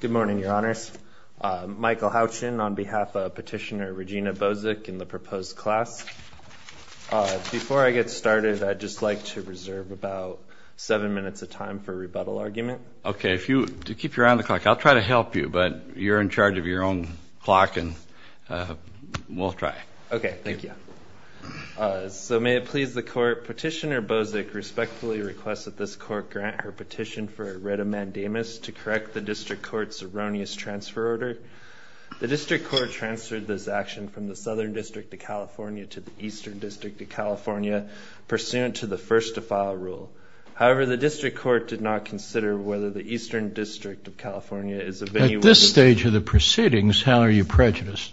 Good morning, Your Honors. Michael Houchin on behalf of Petitioner Regina Bozic in the proposed class. Before I get started, I'd just like to reserve about seven minutes of time for rebuttal argument. OK, to keep you around the clock, I'll try to help you. But you're in charge of your own clock. And we'll try. OK, thank you. So may it please the Court, Petitioner Bozic respectfully requests that this Court grant her petition for a writ of mandamus to correct the district court's erroneous transfer order. The district court transferred this action from the Southern District of California to the Eastern District of California, pursuant to the first-to-file rule. However, the district court did not consider whether the Eastern District of California is of any worth. At this stage of the proceedings, how are you prejudiced?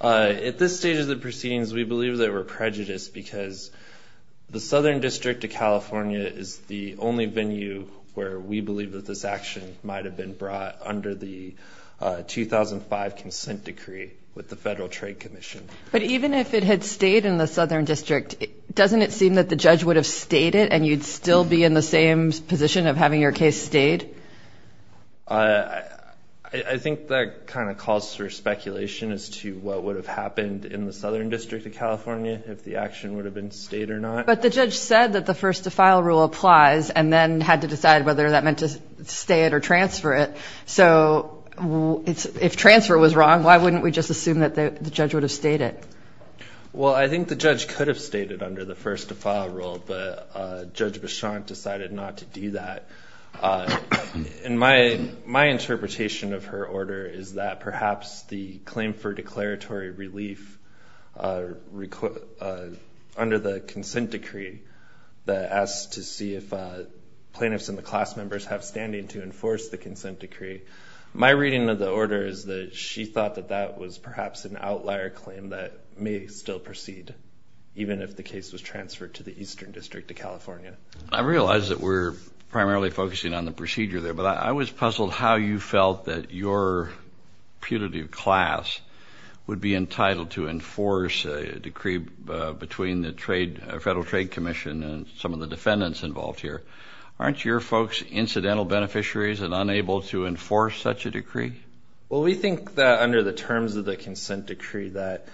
At this stage of the proceedings, we believe that we're prejudiced because the Southern Venue, where we believe that this action might have been brought under the 2005 Consent Decree with the Federal Trade Commission. But even if it had stayed in the Southern District, doesn't it seem that the judge would have stayed it, and you'd still be in the same position of having your case stayed? I think that kind of calls for speculation as to what would have happened in the Southern District of California, if the action would have been stayed or not. But the judge said that the first-to-file rule applies, and then had to decide whether that meant to stay it or transfer it. So if transfer was wrong, why wouldn't we just assume that the judge would have stayed it? Well, I think the judge could have stayed it under the first-to-file rule, but Judge Bichon decided not to do that. And my interpretation of her order is that perhaps the claim for declaratory relief are under the Consent Decree that asks to see if plaintiffs and the class members have standing to enforce the Consent Decree. My reading of the order is that she thought that that was perhaps an outlier claim that may still proceed, even if the case was transferred to the Eastern District of California. I realize that we're primarily focusing on the procedure there. But I was puzzled how you felt that your putative class would be entitled to enforce a decree between the Federal Trade Commission and some of the defendants involved here. Aren't your folks incidental beneficiaries and unable to enforce such a decree? Well, we think that under the terms of the Consent Decree that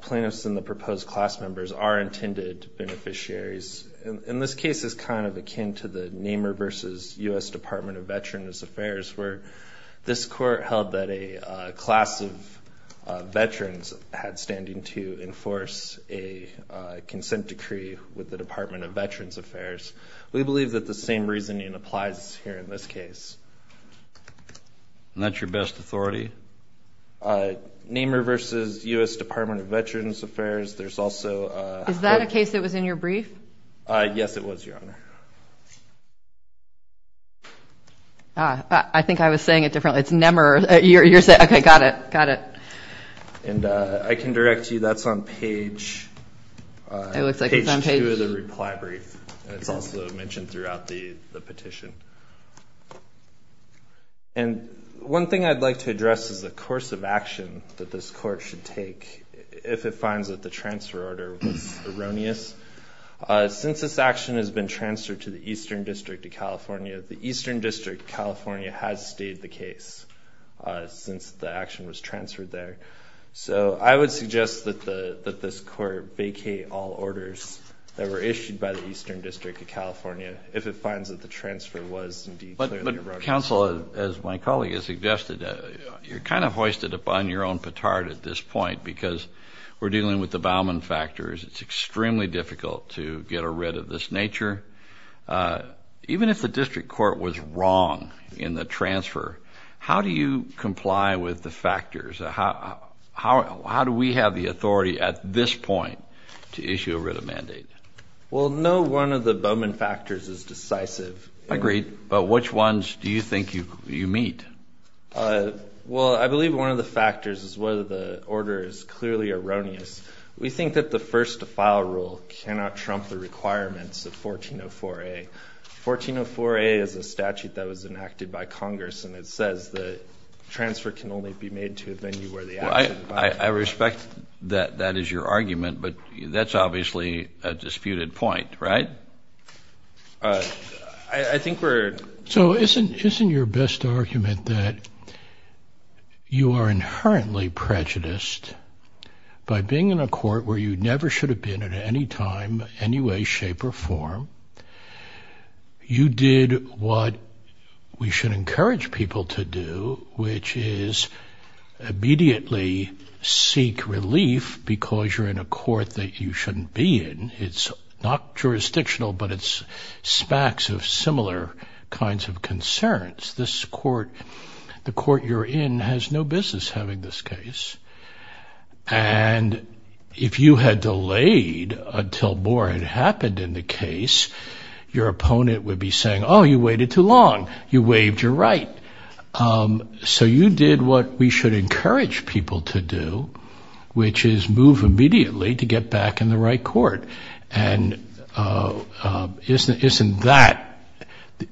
plaintiffs and the proposed class members are intended beneficiaries. And this case is kind of akin to the Nehmer versus US Department of Veterans Affairs, where this court held that a class of veterans had standing to enforce a Consent Decree with the Department of Veterans Affairs. We believe that the same reasoning applies here in this case. And that's your best authority? Nehmer versus US Department of Veterans Affairs. There's also a- Is that a case that was in your brief? Yes, it was, Your Honor. I think I was saying it differently. It's Nehmer. You're saying, OK, got it. Got it. And I can direct you, that's on page two of the reply brief. It's also mentioned throughout the petition. And one thing I'd like to address is the course of action that this court should take if it finds that the transfer order was erroneous. Since this action has been transferred to the Eastern District of California, the Eastern District of California has stayed the case since the action was transferred there. So I would suggest that this court vacate all orders that were issued by the Eastern District of California if it finds that the transfer was indeed clearly erroneous. Counsel, as my colleague has suggested, you're kind of hoisted upon your own petard at this point because we're dealing with the Bauman factors. It's extremely difficult to get rid of this nature. Even if the district court was wrong in the transfer, how do you comply with the factors? How do we have the authority at this point to issue a writ of mandate? Well, no one of the Bauman factors is decisive. Agreed. But which ones do you think you meet? Well, I believe one of the factors is whether the order is clearly erroneous. We think that the first to file rule cannot trump the requirements of 1404A. 1404A is a statute that was enacted by Congress, and it says that transfer can only be made to a venue where the action is violated. I respect that that is your argument, but that's obviously a disputed point, right? I think we're. So isn't your best argument that you are inherently prejudiced by being in a court where you never should have been at any time, any way, shape, or form? You did what we should encourage people to do, which is immediately seek relief because you're in a court that you shouldn't be in. It's not jurisdictional, but it's smacks of similar kinds of concerns. This court, the court you're in, has no business having this case. And if you had delayed until more had happened in the case, your opponent would be saying, oh, you waited too long. You waived your right. So you did what we should encourage people to do, which is move immediately to get back in the right court. And isn't that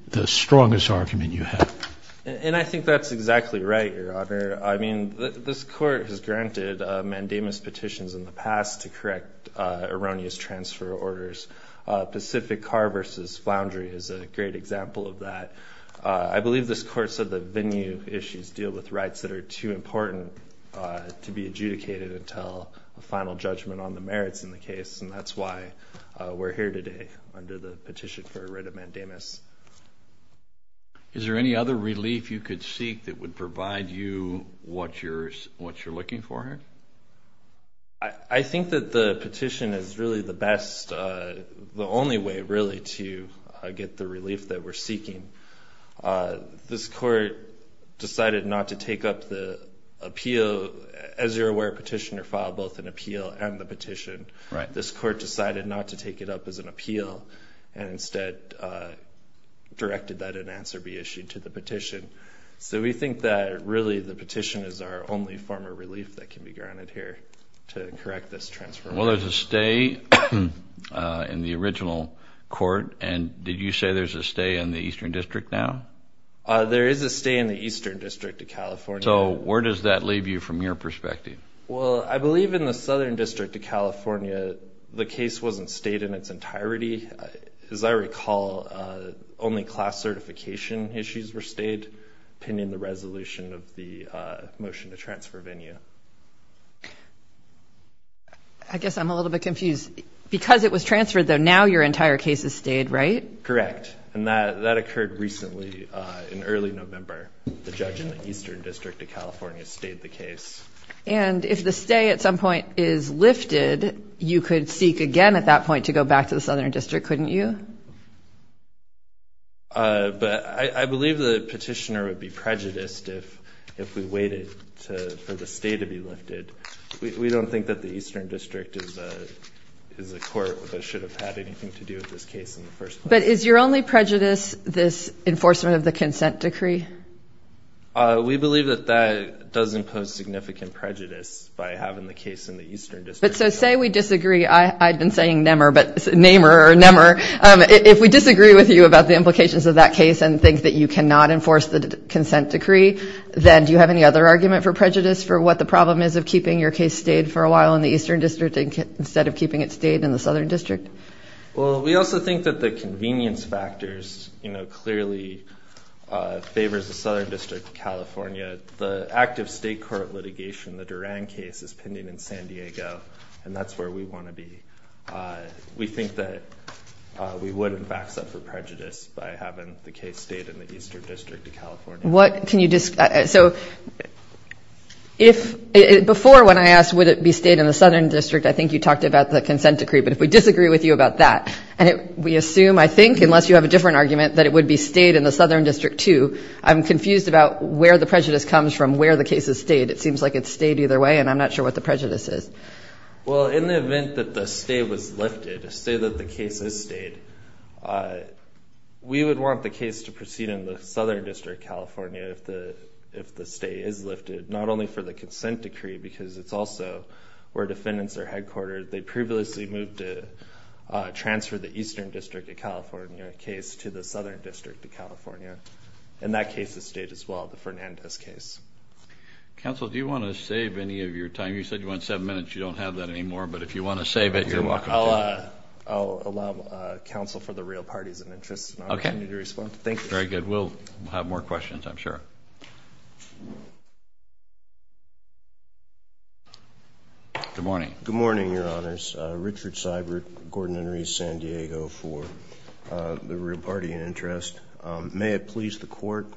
the strongest argument you have? And I think that's exactly right, Your Honor. I mean, this court has granted mandamus petitions in the past to correct erroneous transfer orders. Pacific Car versus Floundry is a great example of that. I believe this court said that venue issues deal with rights that are too important to be adjudicated until a final judgment on the merits in the case. And that's why we're here today under the petition for a writ of mandamus. Is there any other relief you could seek that would provide you what you're looking for here? I think that the petition is really the best, the only way, really, to get the relief that we're seeking. This court decided not to take up the appeal. As you're aware, petitioner filed both an appeal and the petition. This court decided not to take it up as an appeal and instead directed that an answer be issued to the petition. So we think that, really, the petition is our only form of relief that can be granted here to correct this transfer. Well, there's a stay in the original court. And did you say there's a stay in the Eastern District now? There is a stay in the Eastern District of California. So where does that leave you from your perspective? Well, I believe in the Southern District of California, the case wasn't stayed in its entirety. As I recall, only class certification issues were stayed pending the resolution of the motion to transfer venue. I guess I'm a little bit confused. Because it was transferred, though, now your entire case is stayed, right? Correct. And that occurred recently in early November. The judge in the Eastern District of California stayed the case. And if the stay at some point is lifted, you could seek again at that point to go back to the Southern District, couldn't you? But I believe the petitioner would be prejudiced if we waited for the stay to be lifted. We don't think that the Eastern District is a court that should have had anything to do with this case in the first place. But is your only prejudice this enforcement of the consent decree? We believe that that does impose significant prejudice by having the case in the Eastern District. But so say we disagree. I've been saying nemer, but namer or nemer. If we disagree with you about the implications of that case and think that you cannot enforce the consent decree, then do you have any other argument for prejudice for what the problem is of keeping your case stayed for a while in the Eastern District instead of keeping it stayed in the Southern District? Well, we also think that the convenience factors clearly favors the Southern District of California. The active state court litigation, the Duran case, is pending in San Diego. And that's where we want to be. We think that we would, in fact, suffer prejudice by having the case stayed in the Eastern District of California. Before when I asked would it be stayed in the Southern District, I think you talked about the consent decree. But if we disagree with you about that, we assume, I think, unless you have a different argument, that it would be stayed in the Southern District too. I'm confused about where the prejudice comes from, where the case is stayed. It seems like it's stayed either way. And I'm not sure what the prejudice is. Well, in the event that the stay was lifted, say that the case is stayed, we would want the case to proceed in the Southern District of California if the stay is lifted, not only for the consent decree, because it's also where defendants are headquartered. They previously moved to transfer the Eastern District of California case to the Southern District of California. And that case is stayed as well, the Fernandez case. Counsel, do you want to save any of your time? You said you want seven minutes. You don't have that anymore. But if you want to save it, you're welcome to. I'll allow counsel for the real parties of interest an opportunity to respond. Thank you. Very good. We'll have more questions, I'm sure. Good morning. Good morning, Your Honors. for the real party in interest. May it please the court.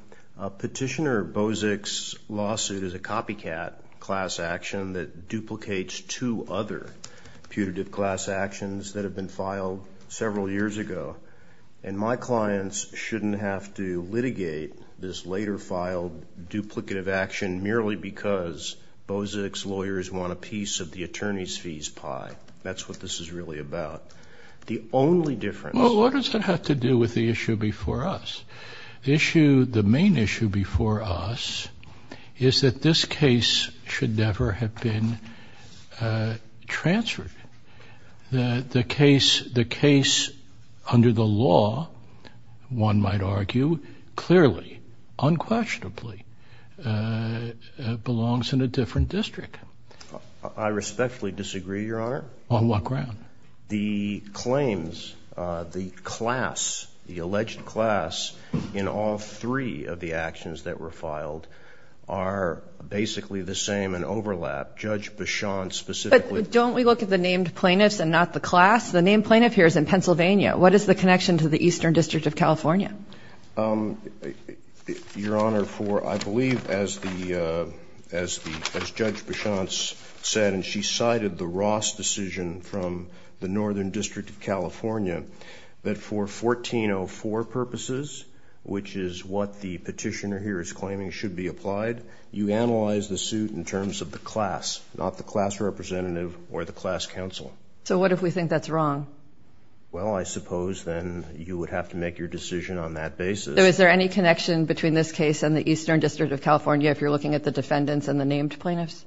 Petitioner Bozic's lawsuit is a copycat class action that duplicates two other putative class actions that have been filed several years ago. And my clients shouldn't have to litigate this later filed duplicative action merely because Bozic's lawyers want a piece of the attorney's fees pie. That's what this is really about. The only difference. Well, what does that have to do with the issue before us? The issue, the main issue before us, is that this case should never have been transferred. The case under the law, one might argue, clearly, unquestionably, belongs in a different district. I respectfully disagree, Your Honor. On what ground? The claims, the class, the alleged class in all three of the actions that were filed are basically the same in overlap. Judge Bichon specifically. Don't we look at the named plaintiffs and not the class? The named plaintiff here is in Pennsylvania. What is the connection to the Eastern District of California? Your Honor, I believe as Judge Bichon said, and she cited the Ross decision from the Northern District of California, that for 1404 purposes, which is what the petitioner here is claiming should be applied, you analyze the suit in terms of the class, not the class representative or the class counsel. So what if we think that's wrong? Well, I suppose then you would have to make your decision on that basis. Is there any connection between this case and the Eastern District of California if you're looking at the defendants and the named plaintiffs?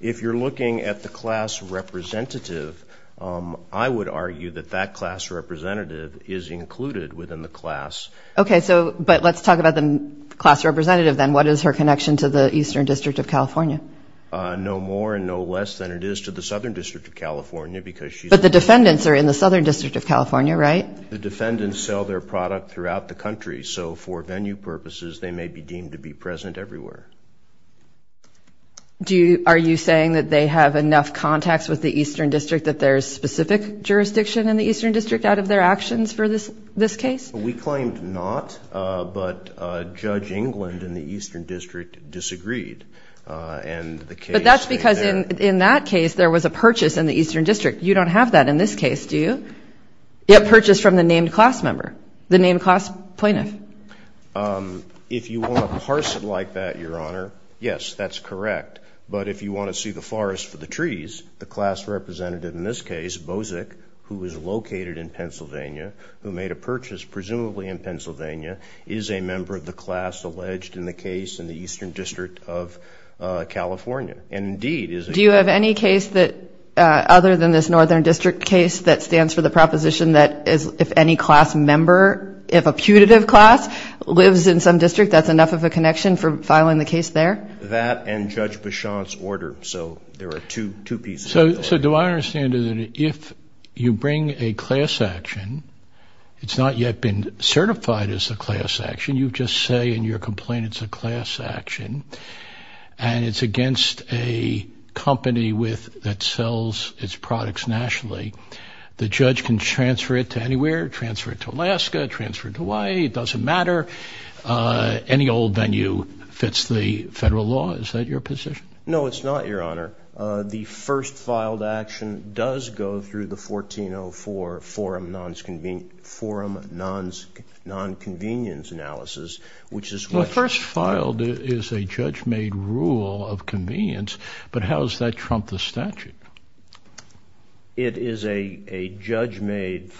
If you're looking at the class representative, I would argue that that class representative is included within the class. OK, but let's talk about the class representative then. What is her connection to the Eastern District of California? No more and no less than it is to the Southern District of California, because she's a defendant. But the defendants are in the Southern District of California, right? The defendants sell their product throughout the country. So for venue purposes, they may be deemed to be present everywhere. Do you, are you saying that they have enough contacts with the Eastern District that there's specific jurisdiction in the Eastern District out of their actions for this case? We claimed not, but Judge England in the Eastern District disagreed. And the case in there. But that's because in that case, there was a purchase in the Eastern District. You don't have that in this case, do you? It purchased from the named class member, the named class plaintiff. If you want to parse it like that, Your Honor, yes, that's correct. But if you want to see the forest for the trees, the class representative in this case, Bozek, who is located in Pennsylvania, who made a purchase presumably in Pennsylvania, is a member of the class alleged in the case in the Eastern District of California. And indeed, is it? Do you have any case that, other than this Northern District case, that stands for the proposition that if any class member, if a putative class, lives in some district, that's enough of a connection for filing the case there? That and Judge Bichon's order. So there are two pieces. So do I understand that if you bring a class action, it's not yet been certified as a class action. You just say in your complaint it's a class action. And it's against a company that sells its products nationally. The judge can transfer it to anywhere. Transfer it to Alaska. Transfer it to Hawaii. It doesn't matter. Any old venue fits the federal law. Is that your position? No, it's not, Your Honor. The first filed action does go through the 1404 forum non-convenience analysis, which is when First filed is a judge-made rule of convenience. But how does that trump the statute? It is a judge-made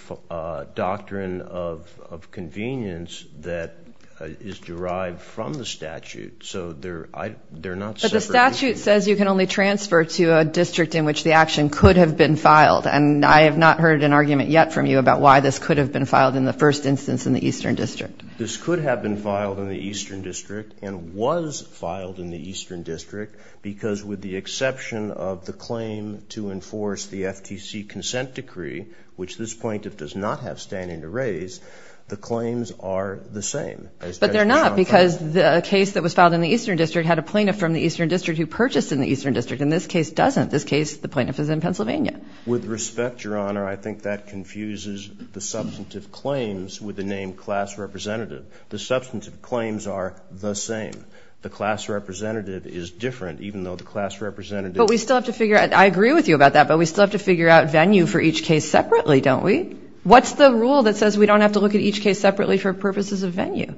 doctrine of convenience that is derived from the statute. So they're not separate. But the statute says you can only transfer to a district in which the action could have been filed. And I have not heard an argument yet from you about why this could have been filed in the first instance in the Eastern District. This could have been filed in the Eastern District and was filed in the Eastern District because with the exception of the claim to enforce the FTC consent decree, which this plaintiff does not have standing to raise, the claims are the same. But they're not because the case that was filed in the Eastern District had a plaintiff from the Eastern District who purchased in the Eastern District. And this case doesn't. This case, the plaintiff is in Pennsylvania. With respect, Your Honor, I think that confuses the substantive claims with the name class representative. The substantive claims are the same. The class representative is different, even though the class representative is different. I agree with you about that. But we still have to figure out venue for each case separately, don't we? What's the rule that says we don't have to look at each case separately for purposes of venue?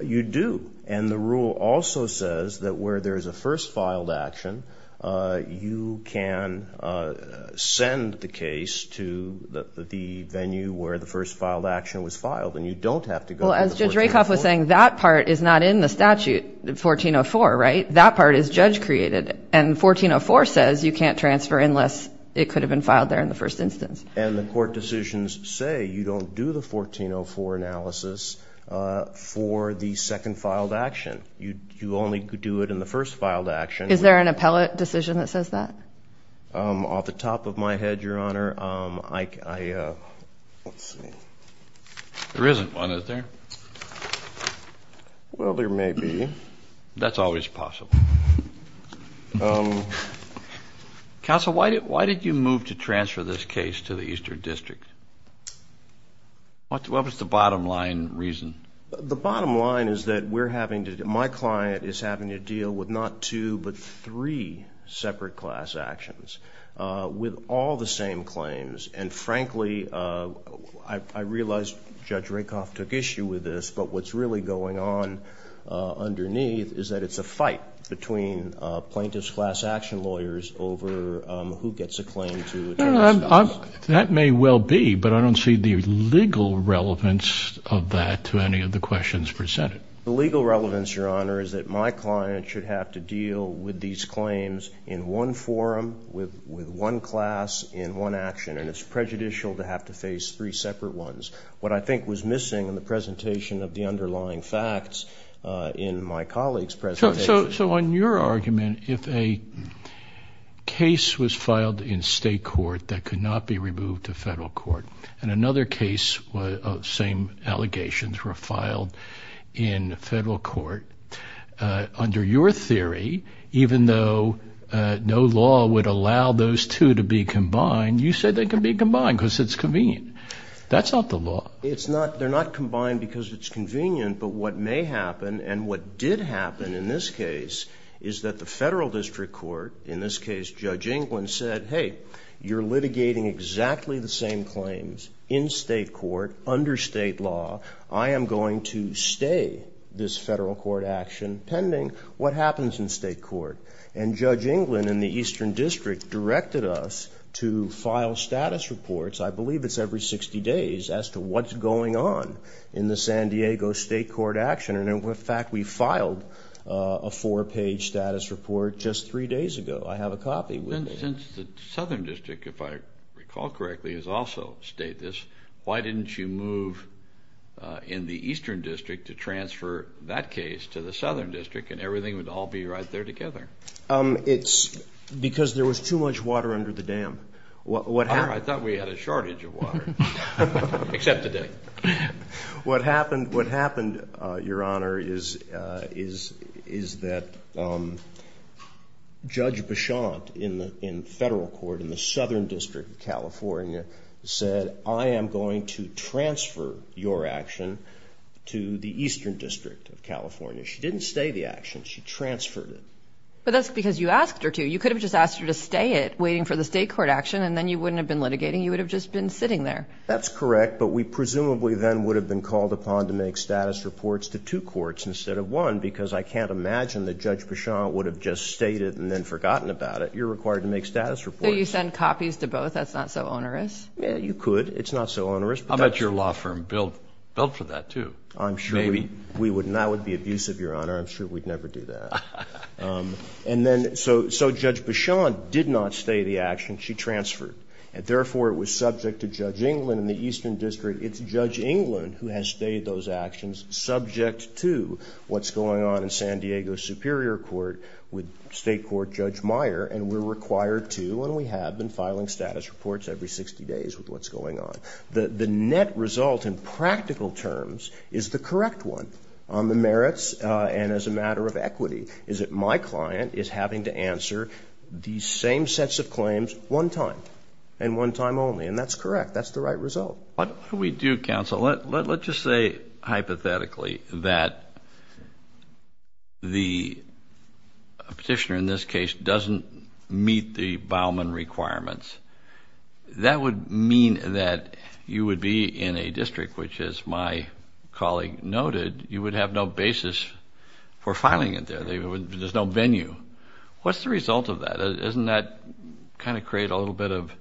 You do. And the rule also says that where there is a first filed action, you can send the case to the venue where the first filed action was filed. And you don't have to go to the court to enforce it. Well, as Judge Rakoff was saying, that part is not in the statute, 1404, right? That part is judge created. And 1404 says you can't transfer unless it could have been filed there in the first instance. And the court decisions say you don't do the 1404 analysis for the second filed action. You only do it in the first filed action. Is there an appellate decision that says that? Off the top of my head, Your Honor, I, let's see. There isn't one, is there? Well, there may be. That's always possible. Counsel, why did you move to transfer this case to the Eastern District? What was the bottom line reason? The bottom line is that we're having to, my client is having to deal with not two, but three separate class actions with all the same claims. And frankly, I realize Judge Rakoff took issue with this, but what's really going on underneath is that it's a fight between plaintiff's class action lawyers over who gets a claim to address this. That may well be, but I don't see the legal relevance of that to any of the questions presented. The legal relevance, Your Honor, is that my client should have to deal with these claims in one forum, with one class, in one action. And it's prejudicial to have to face three separate ones. What I think was missing in the presentation of the underlying facts in my colleague's presentation. So on your argument, if a case was filed in state court that could not be removed to federal court, and another case, same allegations were filed in federal court, under your theory, even though no law would allow those two to be combined, you said they can be combined because it's convenient. That's not the law. They're not combined because it's convenient, but what may happen, and what did happen in this case, is that the federal district court, in this case, Judge Englund, said, hey, you're litigating exactly the same claims in state court, under state law. I am going to stay this federal court action pending. What happens in state court? And Judge Englund, in the Eastern District, directed us to file status reports, I believe it's every 60 days, as to what's going on in the San Diego state court action. And in fact, we filed a four-page status report just three days ago. I have a copy with me. Since the Southern District, if I recall correctly, has also stated this, why didn't you move in the Eastern District to transfer that case to the Southern District, and everything would all be right there together? It's because there was too much water under the dam. I thought we had a shortage of water. Except today. What happened, Your Honor, is that Judge Bichont, in federal court, in the Southern District of California, said, I am going to transfer your action to the Eastern District of California. She didn't stay the action. She transferred it. But that's because you asked her to. You could have just asked her to stay it, waiting for the state court action, and then you wouldn't have been litigating. You would have just been sitting there. That's correct. But we presumably then would have been called upon to make status reports to two courts instead of one, because I can't imagine that Judge Bichont would have just stated and then forgotten about it. You're required to make status reports. So you send copies to both? That's not so onerous? Yeah, you could. How much your law firm billed for that, too? I'm sure we would not be abusive, Your Honor. I'm sure we'd never do that. Ha, ha, ha. And then, so Judge Bichont did not stay the action. She transferred. And therefore, it was subject to Judge Englund in the Eastern District. It's Judge Englund who has stayed those actions, subject to what's going on in San Diego Superior Court with State Court Judge Meyer. And we're required to, and we have, been filing status reports every 60 days with what's going on. The net result, in practical terms, is the correct one on the merits and as a matter of equity, is that my client is having to answer the same sets of claims one time, and one time only. And that's correct. That's the right result. What we do, counsel, let's just say hypothetically that the petitioner in this case doesn't meet the Bauman requirements. That would mean that you would be in a district which, as my colleague noted, you would have no basis for filing it there. There's no venue. What's the result of that? Doesn't that kind of create a little bit of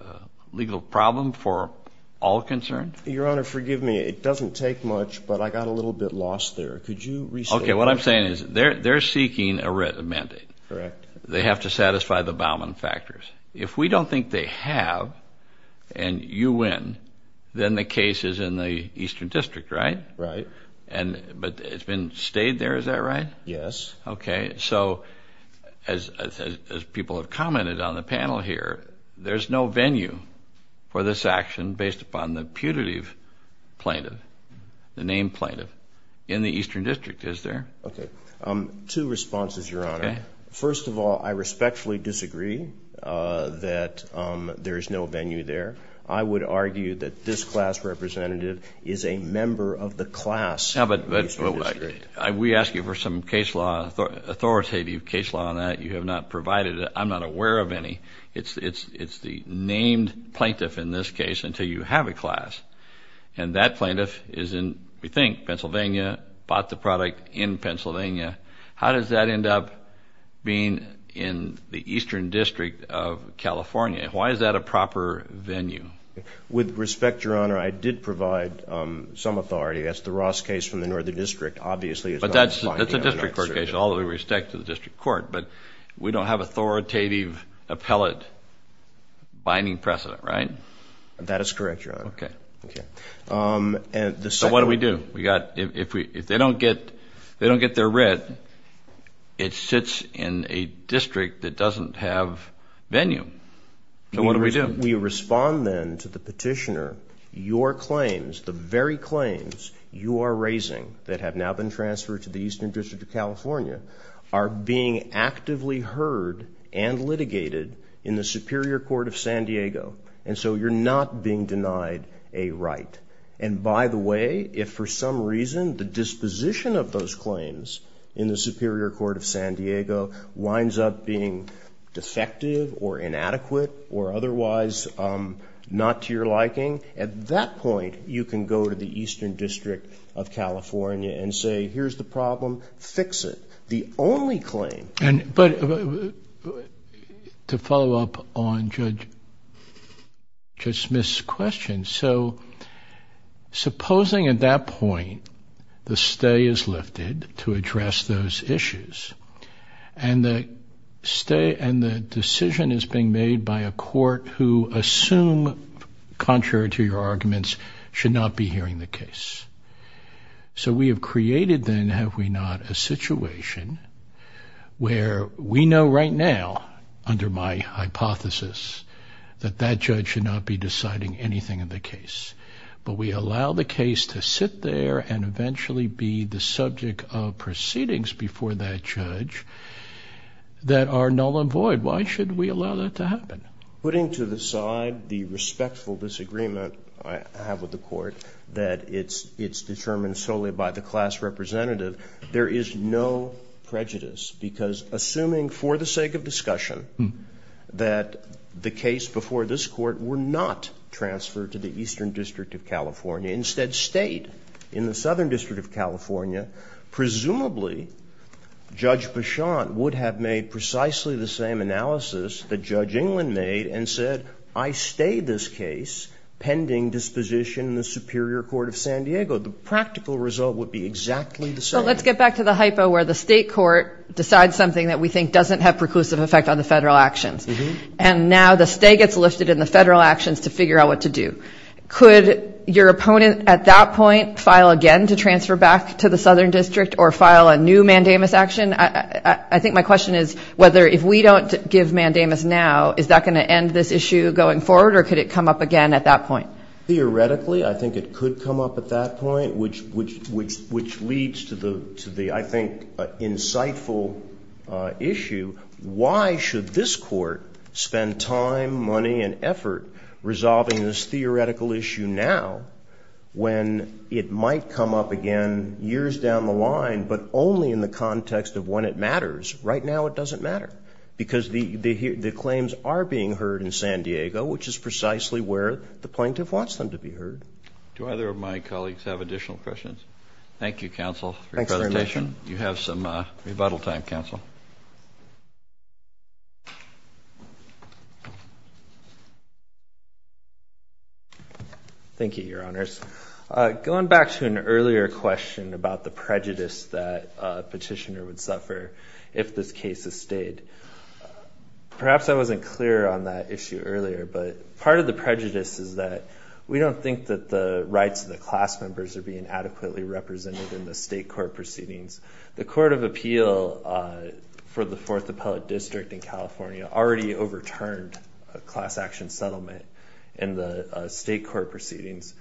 a legal problem for all concerned? Your Honor, forgive me, it doesn't take much, but I got a little bit lost there. Could you restate that? Okay, what I'm saying is they're seeking a mandate. Correct. They have to satisfy the Bauman factors. If we don't think they have, and you win, then the case is in the Eastern District, right? Right. But it's been stayed there, is that right? Yes. Okay, so as people have commented on the panel here, there's no venue for this action based upon the putative plaintiff, the named plaintiff in the Eastern District, is there? Okay, two responses, Your Honor. First of all, I respectfully disagree that there's no venue there. I would argue that this class representative is a member of the class in the Eastern District. We ask you for some authoritative case law on that. You have not provided it. I'm not aware of any. It's the named plaintiff in this case until you have a class. And that plaintiff is in, we think, Pennsylvania, bought the product in Pennsylvania. How does that end up being in the Eastern District of California? Why is that a proper venue? With respect, Your Honor, I did provide some authority. That's the Ross case from the Northern District. Obviously, it's not a finding. But that's a district court case, all the respect to the district court. But we don't have authoritative appellate binding precedent, right? That is correct, Your Honor. Okay. Okay. So what do we do? We got, if they don't get their writ, it sits in a district that doesn't have venue. So what do we do? We respond then to the petitioner, your claims, the very claims you are raising that have now been transferred to the Eastern District of California are being actively heard and litigated in the Superior Court of San Diego. And so you're not being denied a right. And by the way, if for some reason, the disposition of those claims in the Superior Court of San Diego winds up being defective or inadequate or otherwise not to your liking, at that point, you can go to the Eastern District of California and say, here's the problem, fix it. The only claim. But to follow up on Judge Smith's question, so supposing at that point, the stay is lifted to address those issues. And the decision is being made by a court who assume, contrary to your arguments, should not be hearing the case. So we have created then, have we not, a situation where we know right now, under my hypothesis, that that judge should not be deciding anything in the case. But we allow the case to sit there and eventually be the subject of proceedings before that judge that are null and void. Why should we allow that to happen? Putting to the side the respectful disagreement I have with the court, that it's determined solely by the class representative, there is no prejudice because assuming for the sake of discussion that the case before this court were not transferred to the Eastern District of California, instead stayed in the Southern District of California, presumably Judge Bichon would have made precisely the same analysis that Judge England made and said, I stay this case pending disposition in the Superior Court of San Diego. The practical result would be exactly the same. So let's get back to the hypo where the state court decides something that we think doesn't have preclusive effect on the federal actions. And now the stay gets lifted in the federal actions to figure out what to do. Could your opponent at that point file again to transfer back to the Southern District or file a new mandamus action? I think my question is whether if we don't give mandamus now is that gonna end this issue going forward or could it come up again at that point? Theoretically, I think it could come up at that point which leads to the, I think, insightful issue. Why should this court spend time, money and effort resolving this theoretical issue now when it might come up again years down the line but only in the context of when it matters. Right now it doesn't matter because the claims are being heard in San Diego which is precisely where the plaintiff wants them to be heard. Do either of my colleagues have additional questions? Thank you, counsel for your presentation. You have some rebuttal time, counsel. Thank you. Thank you, your honors. Going back to an earlier question about the prejudice that a petitioner would suffer if this case is stayed. Perhaps I wasn't clear on that issue earlier but part of the prejudice is that we don't think that the rights of the class members are being adequately represented in the state court proceedings. The Court of Appeal for the Fourth Appellate District in California already overturned a class action settlement in the state court proceedings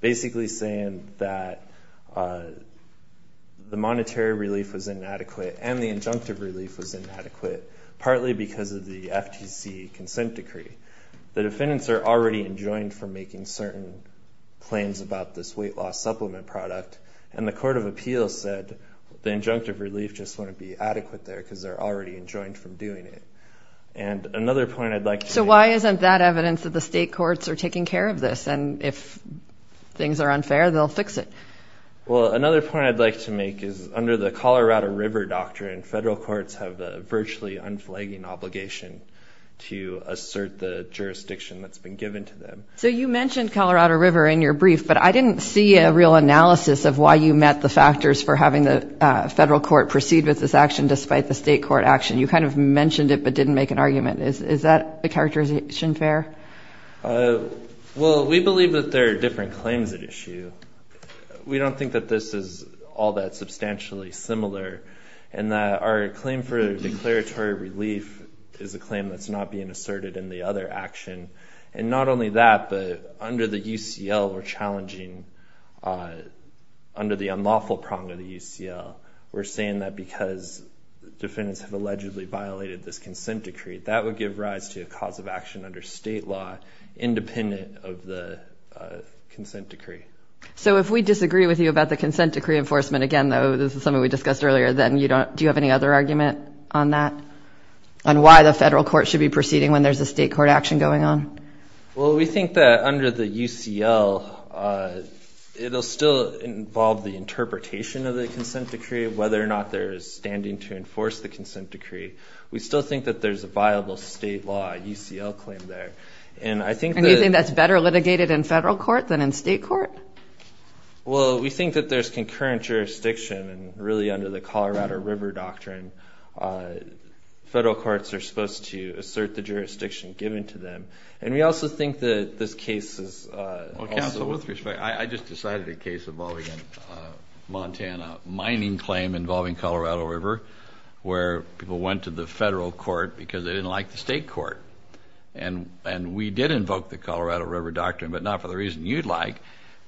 basically saying that the monetary relief was inadequate and the injunctive relief was inadequate partly because of the FTC consent decree. The defendants are already enjoined for making certain claims about this weight loss supplement product and the Court of Appeal said the injunctive relief just wouldn't be adequate there because they're already enjoined from doing it. And another point I'd like to make. So why isn't that evidence that the state courts are taking care of this? And if things are unfair, they'll fix it. Well, another point I'd like to make is under the Colorado River Doctrine, federal courts have the virtually unflagging obligation to assert the jurisdiction that's been given to them. So you mentioned Colorado River in your brief but I didn't see a real analysis of why you met the factors for having the federal court proceed with this action despite the state court action. You kind of mentioned it but didn't make an argument. Is that a characterization fair? Well, we believe that there are different claims at issue. We don't think that this is all that substantially similar and that our claim for declaratory relief is a claim that's not being asserted in the other action. And not only that, but under the UCL, we're challenging under the unlawful prong of the UCL, we're saying that because defendants have allegedly violated this consent decree, that would give rise to a cause of action under state law independent of the consent decree. So if we disagree with you about the consent decree enforcement, again though, this is something we discussed earlier, then do you have any other argument on that? On why the federal court should be proceeding when there's a state court action going on? Well, we think that under the UCL, it'll still involve the interpretation of the consent decree, whether or not there is standing to enforce the consent decree. We still think that there's a viable state law UCL claim there. And I think that- And you think that's better litigated in federal court than in state court? Well, we think that there's concurrent jurisdiction and really under the Colorado River Doctrine, federal courts are supposed to assert the jurisdiction given to them. And we also think that this case is also- Well, counsel, with respect, I just decided a case involving Montana mining claim involving Colorado River, where people went to the federal court because they didn't like the state court. And we did invoke the Colorado River Doctrine, but not for the reason you'd like.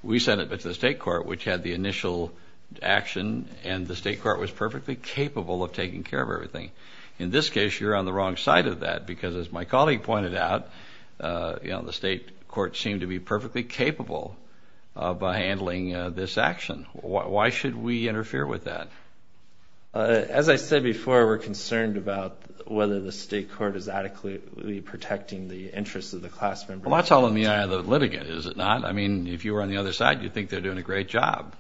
We sent it to the state court, which had the initial action and the state court was perfectly capable of taking care of everything. In this case, you're on the wrong side of that, because as my colleague pointed out, the state court seemed to be perfectly capable by handling this action. Why should we interfere with that? As I said before, we're concerned about whether the state court is adequately protecting the interests of the class member. Well, that's all in the eye of the litigant, is it not? I mean, if you were on the other side, you'd think they're doing a great job.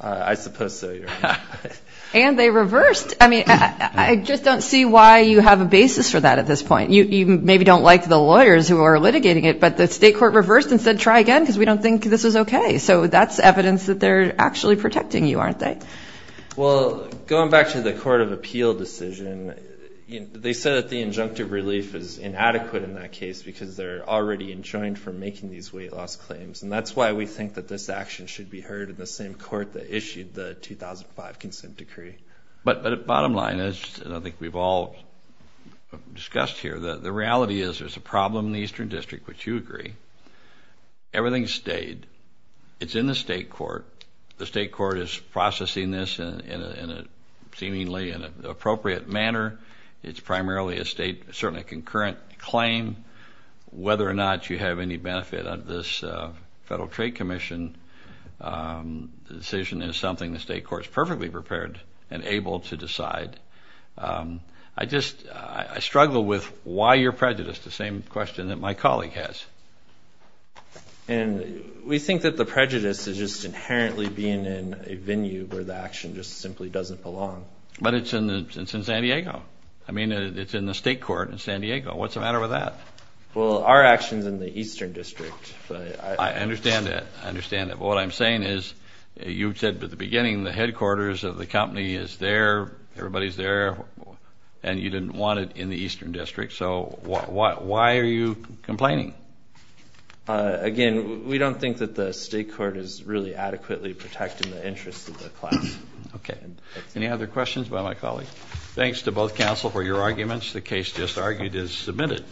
I suppose so, Your Honor. And they reversed. I mean, I just don't see why you have a basis for that at this point. You maybe don't like the lawyers who are litigating it, but the state court reversed and said, try again, because we don't think this is okay. So that's evidence that they're actually protecting you, aren't they? Well, going back to the Court of Appeal decision, they said that the injunctive relief is inadequate in that case, because they're already enjoined for making these weight loss claims. And that's why we think that this action should be heard in the same court that issued the 2005 consent decree. But bottom line is, and I think we've all discussed here, that the reality is there's a problem in the Eastern District, which you agree. Everything stayed. It's in the state court. The state court is processing this in a seemingly inappropriate manner. It's primarily a state, certainly a concurrent claim. Whether or not you have any benefit of this Federal Trade Commission decision is something the state court's perfectly prepared and able to decide. I just, I struggle with why you're prejudiced, the same question that my colleague has. And we think that the prejudice is just inherently being in a venue where the action just simply doesn't belong. But it's in San Diego. I mean, it's in the state court in San Diego. What's the matter with that? Well, our action's in the Eastern District. I understand that, I understand that. But what I'm saying is, you said at the beginning the headquarters of the company is there, everybody's there, and you didn't want it in the Eastern District. So why are you complaining? Again, we don't think that the state court is really adequately protecting the interests of the class. Okay, any other questions by my colleague? Thanks to both counsel for your arguments. The case just argued is submitted.